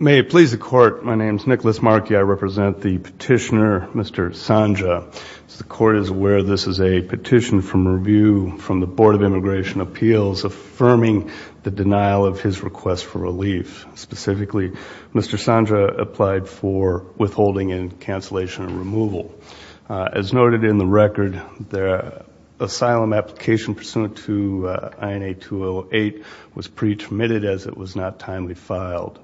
May it please the court, my name is Nicholas Markey. I represent the petitioner Mr. Sanjaa. The court is aware this is a petition from review from the Board of Immigration Appeals affirming the denial of his request for relief. Specifically, Mr. Sanjaa applied for withholding and cancellation and removal. As noted in the record, the asylum application pursuant to INA 208 was pre-termitted as it was not timely filed.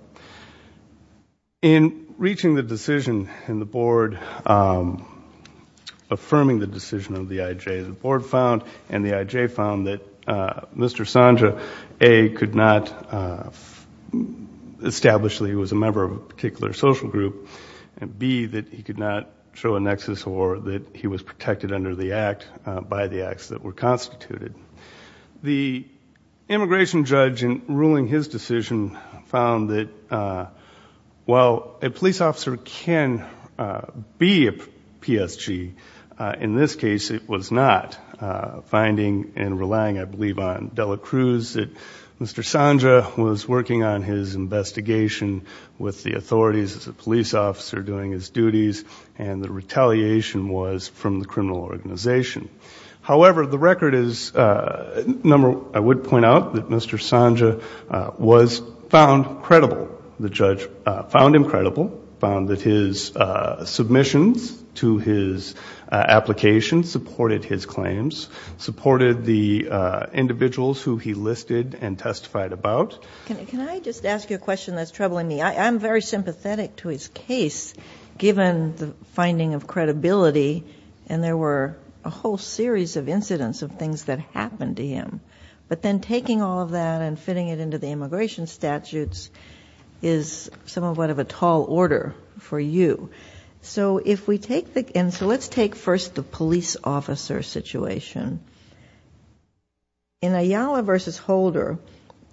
In reaching the decision in the board affirming the decision of the IJ, the board found and the IJ found that Mr. Sanjaa, A, could not establish that he was a member of a particular social group and B, that he could not show a nexus or that he was protected under the act by the immigration judge in ruling his decision found that while a police officer can be a PSG, in this case it was not. Finding and relying, I believe, on Dela Cruz that Mr. Sanjaa was working on his investigation with the authorities as a police officer doing his duties and the retaliation was from the criminal organization. However, the record is, I would point out that Mr. Sanjaa was found credible. The judge found him credible, found that his submissions to his application supported his claims, supported the individuals who he listed and testified about. Can I just ask you a question that's troubling me? I'm very sympathetic to his case given the whole series of incidents of things that happened to him, but then taking all of that and fitting it into the immigration statutes is somewhat of a tall order for you. So if we take the, and so let's take first the police officer situation. In Ayala versus Holder,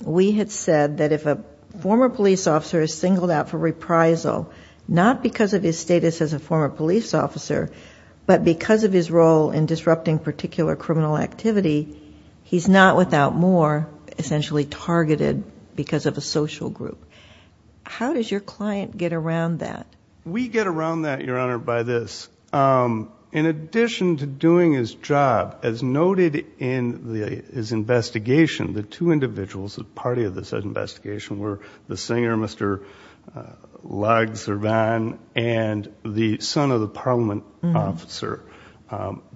we had said that if a former police officer is singled out for reprisal, not because of his status as a former police officer, but because of his role in disrupting particular criminal activity, he's not without more essentially targeted because of a social group. How does your client get around that? We get around that, Your Honor, by this. In addition to doing his job, as noted in his investigation, the two individuals, a party of this investigation, were the singer Mr. Logservan and the son of the parliament officer.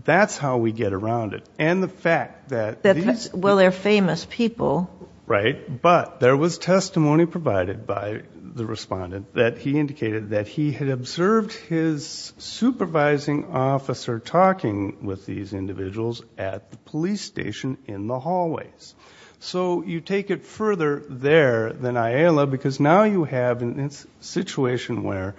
That's how we get around it. And the fact that... Well, they're famous people. Right, but there was testimony provided by the respondent that he indicated that he had observed his supervising officer talking with these individuals at the police station in the hallways. So you take it further there than Ayala because now you have a situation where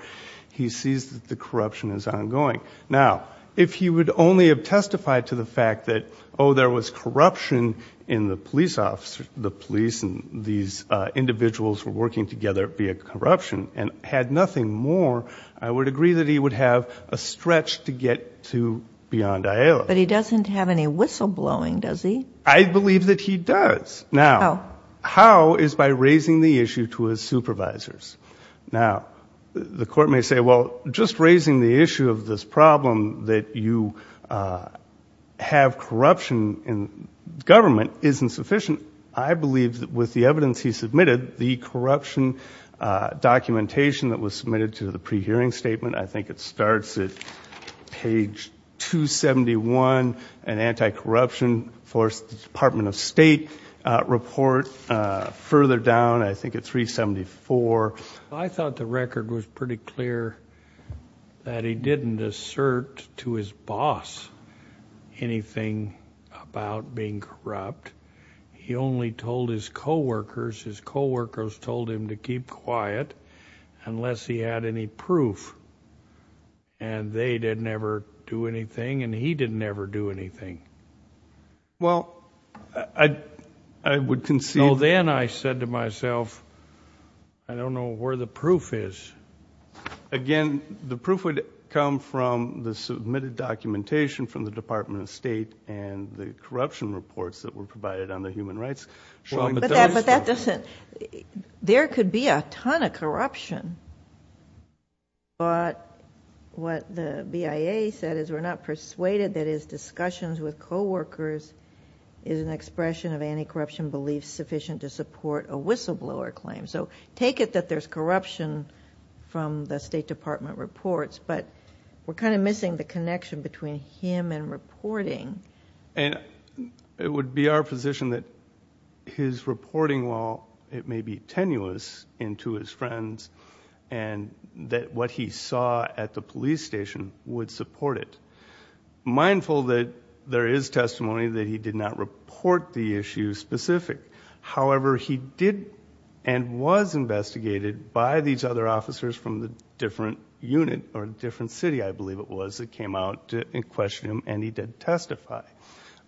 he sees that the corruption is ongoing. Now, if he would only have testified to the fact that, oh, there was corruption in the police officer, the police and these individuals were working together via corruption and had nothing more, I would agree that he would have a stretch to get to beyond Ayala. But he doesn't have any whistleblowing, does he? I believe that he does. Now, how is by raising the issue to his supervisors. Now, the court may say, well, just raising the issue of this problem that you have corruption in government isn't sufficient. I believe that with the evidence he submitted, the corruption documentation that was submitted to the pre-hearing statement, I think it starts at page 271, an anti-corruption for the Department of State report. Further down, I think at 374. I thought the record was pretty clear that he didn't assert to his boss anything about being corrupt. He only told his co-workers. His co-workers told him to keep quiet unless he had any proof. And they didn't ever do anything, and he didn't ever do anything. Well, I would concede. So then I said to myself, I don't know where the proof is. Again, the proof would come from the submitted documentation from the Department of State and the corruption reports that were provided on the human rights. But there could be a ton of corruption. But what the BIA said is we're not persuaded that his discussions with co-workers is an expression of anti-corruption beliefs sufficient to support a whistleblower claim. So take it that there's corruption from the State Department reports, but we're kind of missing the connection between him and reporting. And it would be our position that his reporting, while it may be tenuous and to his friends, and that what he saw at the police station would support it. Mindful that there is testimony that he did not report the issue specific. However, he did and was investigated by these other officers from the different unit or different city, I believe it was, that came out and questioned him, and he did testify.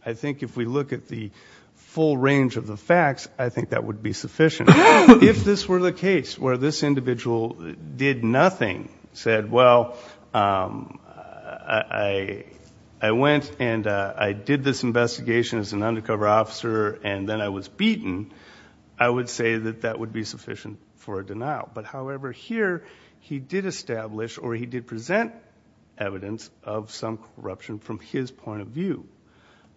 I think if we look at the full range of the facts, I think that would be sufficient. If this were the case where this individual did nothing, said, well, I went and I did this investigation as an undercover officer and then I was beaten, I would say that that would be sufficient for a denial. But however, here he did establish or he did present evidence of some corruption from his point of view.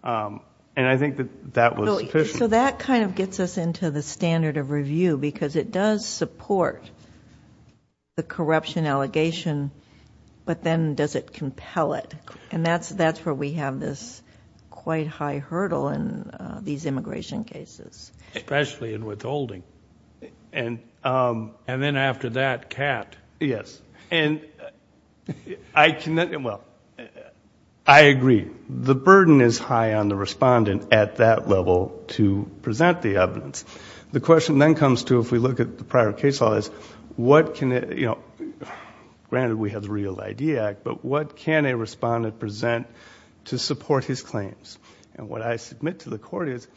And I think that that was sufficient. So that kind of gets us into the standard of review because it does support the corruption allegation, but then does it compel it? And that's where we have this quite high hurdle in these immigration cases. Especially in withholding. And then after that, cat. Yes. And I can... well, I agree. The burden is high on the respondent at that level to present the evidence. The question then comes to, if we look at the prior case law, is what can... to support his claims? And what I submit to the court is,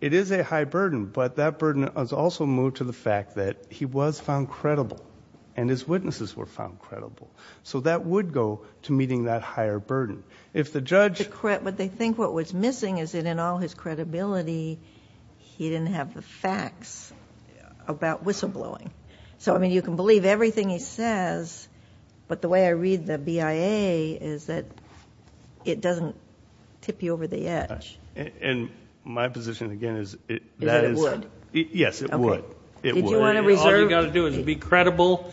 it is a high burden, but that burden is also moved to the fact that he was found credible and his witnesses were found credible. So that would go to meeting that higher burden. If the judge... But they think what was missing is that in all his credibility, he didn't have the facts about whistleblowing. So, I mean, you can believe everything he says, but the way I read the BIA is that it doesn't tip you over the edge. And my position, again, is... Is that it would? Yes, it would. Did you want to reserve... All you've got to do is be credible,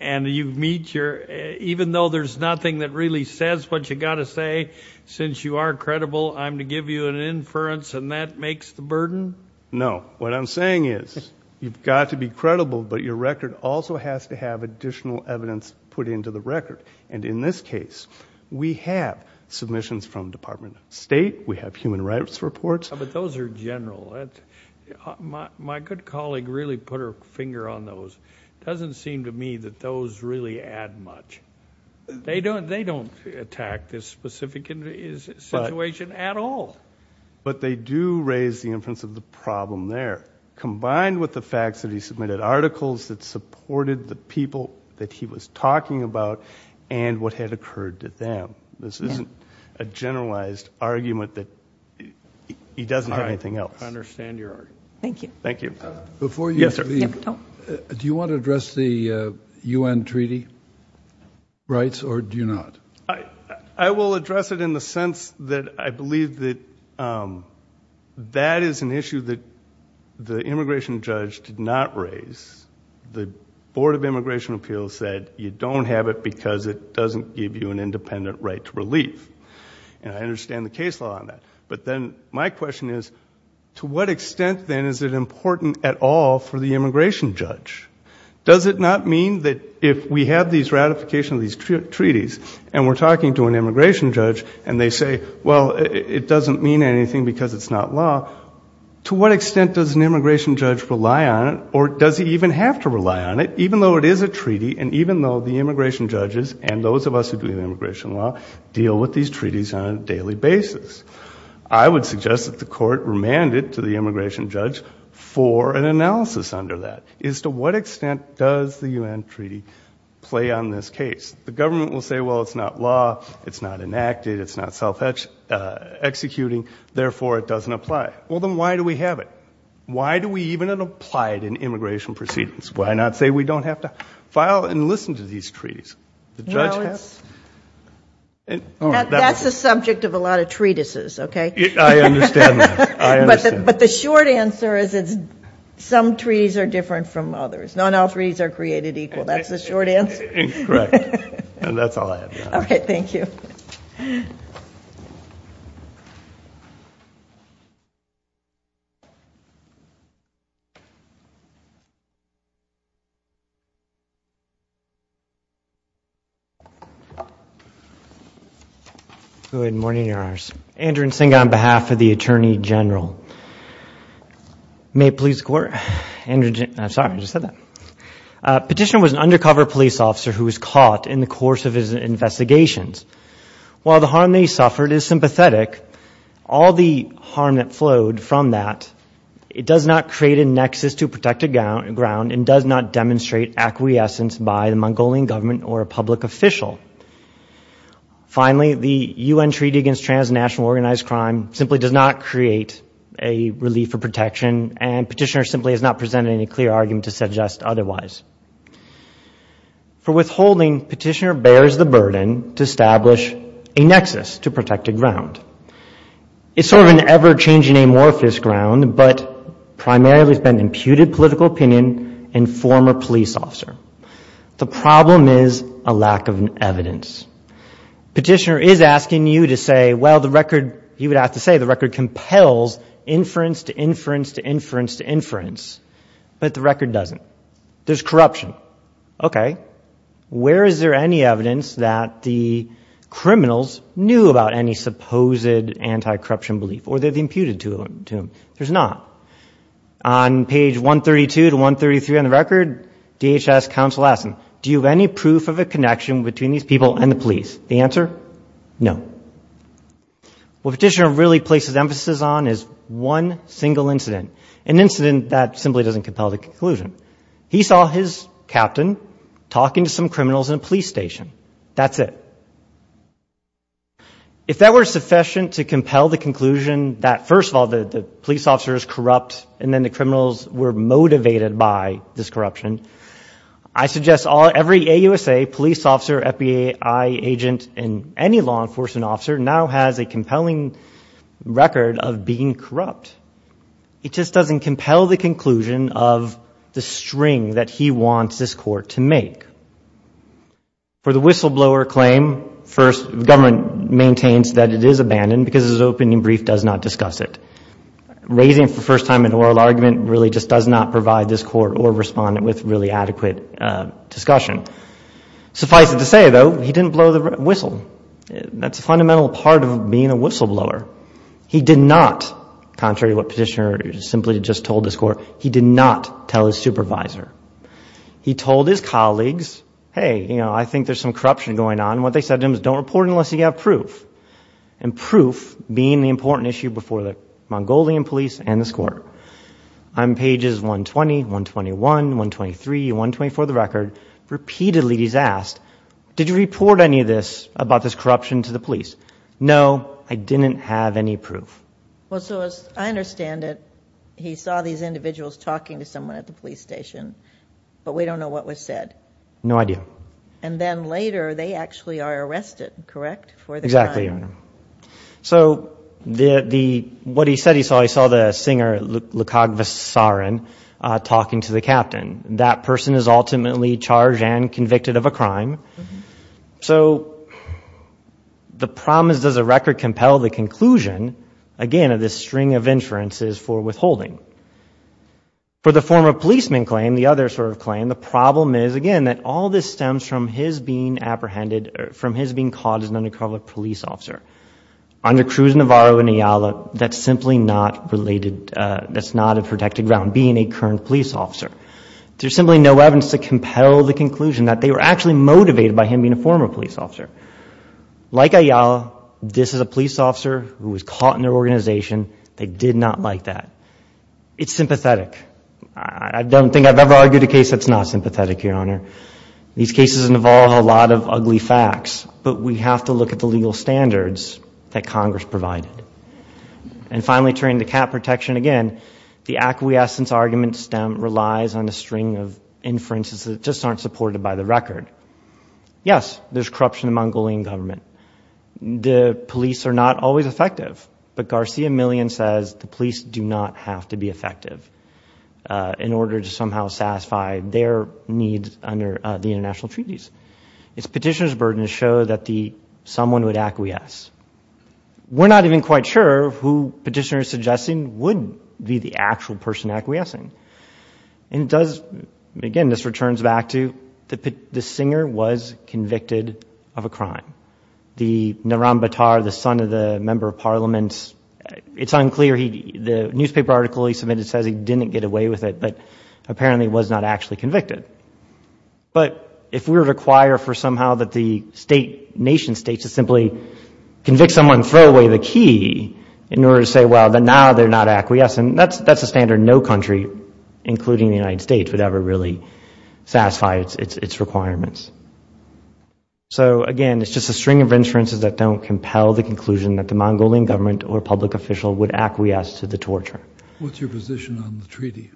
and you meet your... even though there's nothing that really says what you've got to say, since you are credible, I'm to give you an inference, and that makes the burden? No. What I'm saying is, you've got to be credible, but your record also has to have additional evidence put into the record. And in this case, we have submissions from Department of State. We have human rights reports. But those are general. My good colleague really put her finger on those. It doesn't seem to me that those really add much. They don't attack this specific situation at all. But they do raise the inference of the problem there. Combined with the fact that he submitted articles that supported the people that he was talking about and what had occurred to them. This isn't a generalized argument that he doesn't have anything else. I understand your argument. Thank you. Thank you. Yes, sir. Do you want to address the U.N. treaty rights, or do you not? I will address it in the sense that I believe that that is an issue that the immigration judge did not raise. The Board of Immigration Appeals said you don't have it because it doesn't give you an independent right to relief. And I understand the case law on that. But then my question is, to what extent, then, is it important at all for the immigration judge? Does it not mean that if we have these ratifications of these treaties and we're talking to an immigration judge and they say, well, it doesn't mean anything because it's not law, to what extent does an immigration judge rely on it, or does he even have to rely on it, even though it is a treaty and even though the immigration judges and those of us who do immigration law deal with these treaties on a daily basis? I would suggest that the court remand it to the immigration judge for an analysis under that. Is to what extent does the U.N. treaty play on this case? The government will say, well, it's not law. It's not enacted. It's not self-executing. Therefore, it doesn't apply. Well, then why do we have it? Why do we even apply it in immigration proceedings? Why not say we don't have to file and listen to these treaties? That's the subject of a lot of treatises, okay? I understand that. I understand. But the short answer is some treaties are different from others. Not all treaties are created equal. That's the short answer. Correct. And that's all I have. Okay. Thank you. Good morning, Your Honors. Andrew Nzinga on behalf of the Attorney General. May it please the Court. Andrew Nzinga. I'm sorry. I just said that. Petitioner was an undercover police officer who was caught in the course of his investigations. While the harm that he suffered is sympathetic, all the harm that flowed from that, it does not create a nexus to protect a ground and does not demonstrate acquiescence by the Mongolian government or a public official. Finally, the U.N. Treaty Against Transnational Organized Crime simply does not create a relief or protection and Petitioner simply has not presented any clear argument to suggest otherwise. For withholding, Petitioner bears the burden to establish a nexus to protect a ground. It's sort of an ever-changing amorphous ground, but primarily it's been imputed political opinion and former police officer. The problem is a lack of evidence. Petitioner is asking you to say, well, the record, he would have to say, the record compels inference to inference to inference to inference, but the record doesn't. There's corruption. Okay. Where is there any evidence that the criminals knew about any supposed anti-corruption belief or they've imputed to them? There's not. On page 132 to 133 on the record, DHS counsel asks him, do you have any proof of a connection between these people and the police? The answer, no. What Petitioner really places emphasis on is one single incident, an incident that simply doesn't compel the conclusion. He saw his captain talking to some criminals in a police station. That's it. If that were sufficient to compel the conclusion that, first of all, the police officer is corrupt and then the criminals were motivated by this corruption, I suggest every AUSA police officer, FBI agent, and any law enforcement officer now has a compelling record of being corrupt. It just doesn't compel the conclusion of the string that he wants this court to make. For the whistleblower claim, first, the government maintains that it is abandoned because his opening brief does not discuss it. Raising for the first time an oral argument really just does not provide this court or respondent with really adequate discussion. Suffice it to say, though, he didn't blow the whistle. That's a fundamental part of being a whistleblower. He did not, contrary to what Petitioner simply just told this court, he did not tell his supervisor. He told his colleagues, hey, you know, I think there's some corruption going on. What they said to him is don't report it unless you have proof, and proof being the important issue before the Mongolian police and this court. On pages 120, 121, 123, 124 of the record, repeatedly he's asked, did you report any of this about this corruption to the police? No, I didn't have any proof. Well, so as I understand it, he saw these individuals talking to someone at the police station, but we don't know what was said. No idea. And then later they actually are arrested, correct, for the crime? Exactly. So what he said he saw, he saw the singer Lukog Vasarin talking to the captain. That person is ultimately charged and convicted of a crime. So the problem is does the record compel the conclusion, again, of this string of inferences for withholding? For the former policeman claim, the other sort of claim, the problem is, again, that all this stems from his being apprehended, from his being caught as an undercover police officer. Under Cruz, Navarro, and Ayala, that's simply not related, that's not a protected ground, being a current police officer. There's simply no evidence to compel the conclusion that they were actually motivated by him being a former police officer. Like Ayala, this is a police officer who was caught in their organization. They did not like that. It's sympathetic. I don't think I've ever argued a case that's not sympathetic, Your Honor. These cases involve a lot of ugly facts, but we have to look at the legal standards that Congress provided. And finally, turning to cap protection, again, the acquiescence argument stem relies on a string of inferences that just aren't supported by the record. Yes, there's corruption among gullying government. The police are not always effective. But Garcia-Millian says the police do not have to be effective in order to somehow satisfy their needs under the international treaties. It's petitioner's burden to show that someone would acquiesce. We're not even quite sure who petitioner is suggesting would be the actual person acquiescing. And it does, again, this returns back to the singer was convicted of a crime. The Naram Batar, the son of the Member of Parliament, it's unclear. The newspaper article he submitted says he didn't get away with it, but apparently was not actually convicted. But if we were to require for somehow that the nation states to simply convict someone and throw away the key in order to say, well, but now they're not acquiescing, that's a standard no country, including the United States, would ever really satisfy its requirements. So, again, it's just a string of inferences that don't compel the conclusion that the Mongolian government or public official would acquiesce to the torture. What's your position on the treaty?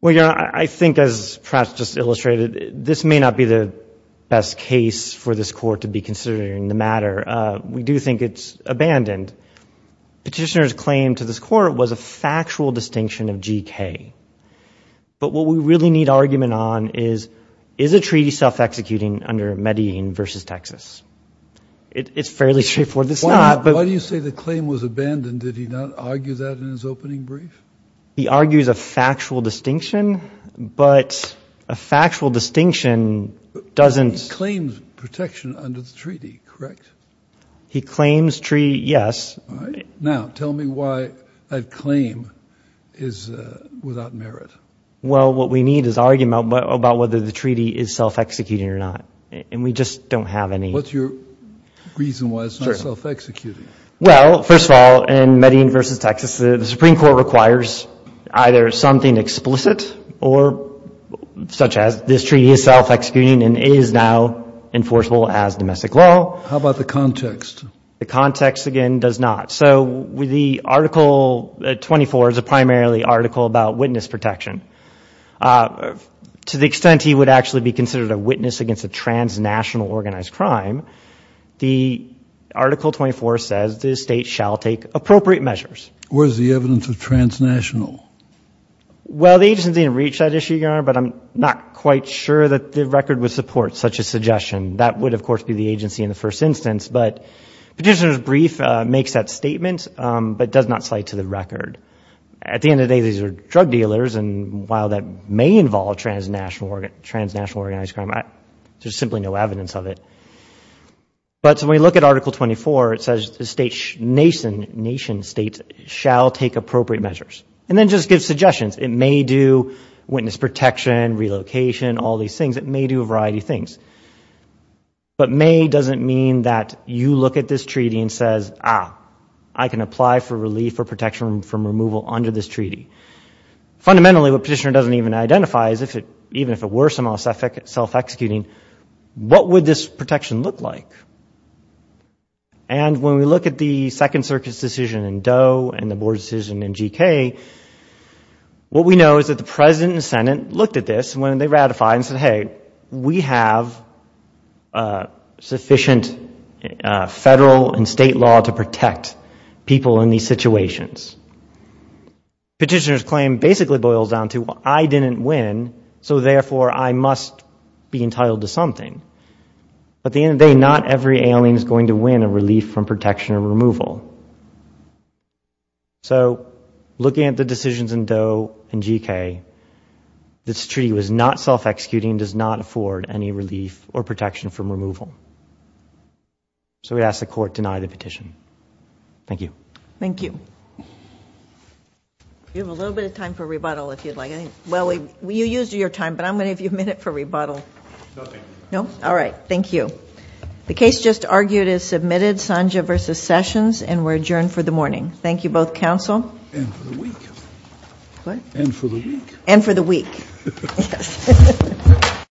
Well, Your Honor, I think as perhaps just illustrated, this may not be the best case for this court to be considering the matter. We do think it's abandoned. Petitioner's claim to this court was a factual distinction of GK. But what we really need argument on is, is the treaty self-executing under Medellin versus Texas? It's fairly straightforward. Why do you say the claim was abandoned? Did he not argue that in his opening brief? He argues a factual distinction, but a factual distinction doesn't. He claims protection under the treaty, correct? He claims treaty, yes. Now, tell me why that claim is without merit. Well, what we need is argument about whether the treaty is self-executing or not. And we just don't have any. What's your reason why it's not self-executing? Well, first of all, in Medellin versus Texas, the Supreme Court requires either something explicit, such as this treaty is self-executing and is now enforceable as domestic law. How about the context? The context, again, does not. So Article 24 is primarily an article about witness protection. To the extent he would actually be considered a witness against a transnational organized crime, the Article 24 says the state shall take appropriate measures. Where is the evidence of transnational? Well, the agency didn't reach that issue, Your Honor, but I'm not quite sure that the record would support such a suggestion. That would, of course, be the agency in the first instance. But Petitioner's brief makes that statement but does not cite to the record. At the end of the day, these are drug dealers, and while that may involve transnational organized crime, there's simply no evidence of it. But when we look at Article 24, it says the nation states shall take appropriate measures. And then just give suggestions. It may do witness protection, relocation, all these things. It may do a variety of things. But may doesn't mean that you look at this treaty and says, ah, I can apply for relief or protection from removal under this treaty. Fundamentally, what Petitioner doesn't even identify is even if it were self-executing, what would this protection look like? And when we look at the Second Circuit's decision in Doe and the Board's decision in G.K., what we know is that the President and the Senate looked at this when they ratified and said, hey, we have sufficient federal and state law to protect people in these situations. Petitioner's claim basically boils down to I didn't win, so therefore I must be entitled to something. At the end of the day, not every alien is going to win a relief from protection or removal. So looking at the decisions in Doe and G.K., this treaty was not self-executing and does not afford any relief or protection from removal. So we ask the Court deny the petition. Thank you. Thank you. We have a little bit of time for rebuttal if you'd like. Well, you used your time, but I'm going to give you a minute for rebuttal. No, thank you. No? All right. Thank you. The case just argued is submitted, Sanja versus Sessions, and we're adjourned for the morning. Thank you both, Counsel. And for the week. What? And for the week. And for the week. Yes.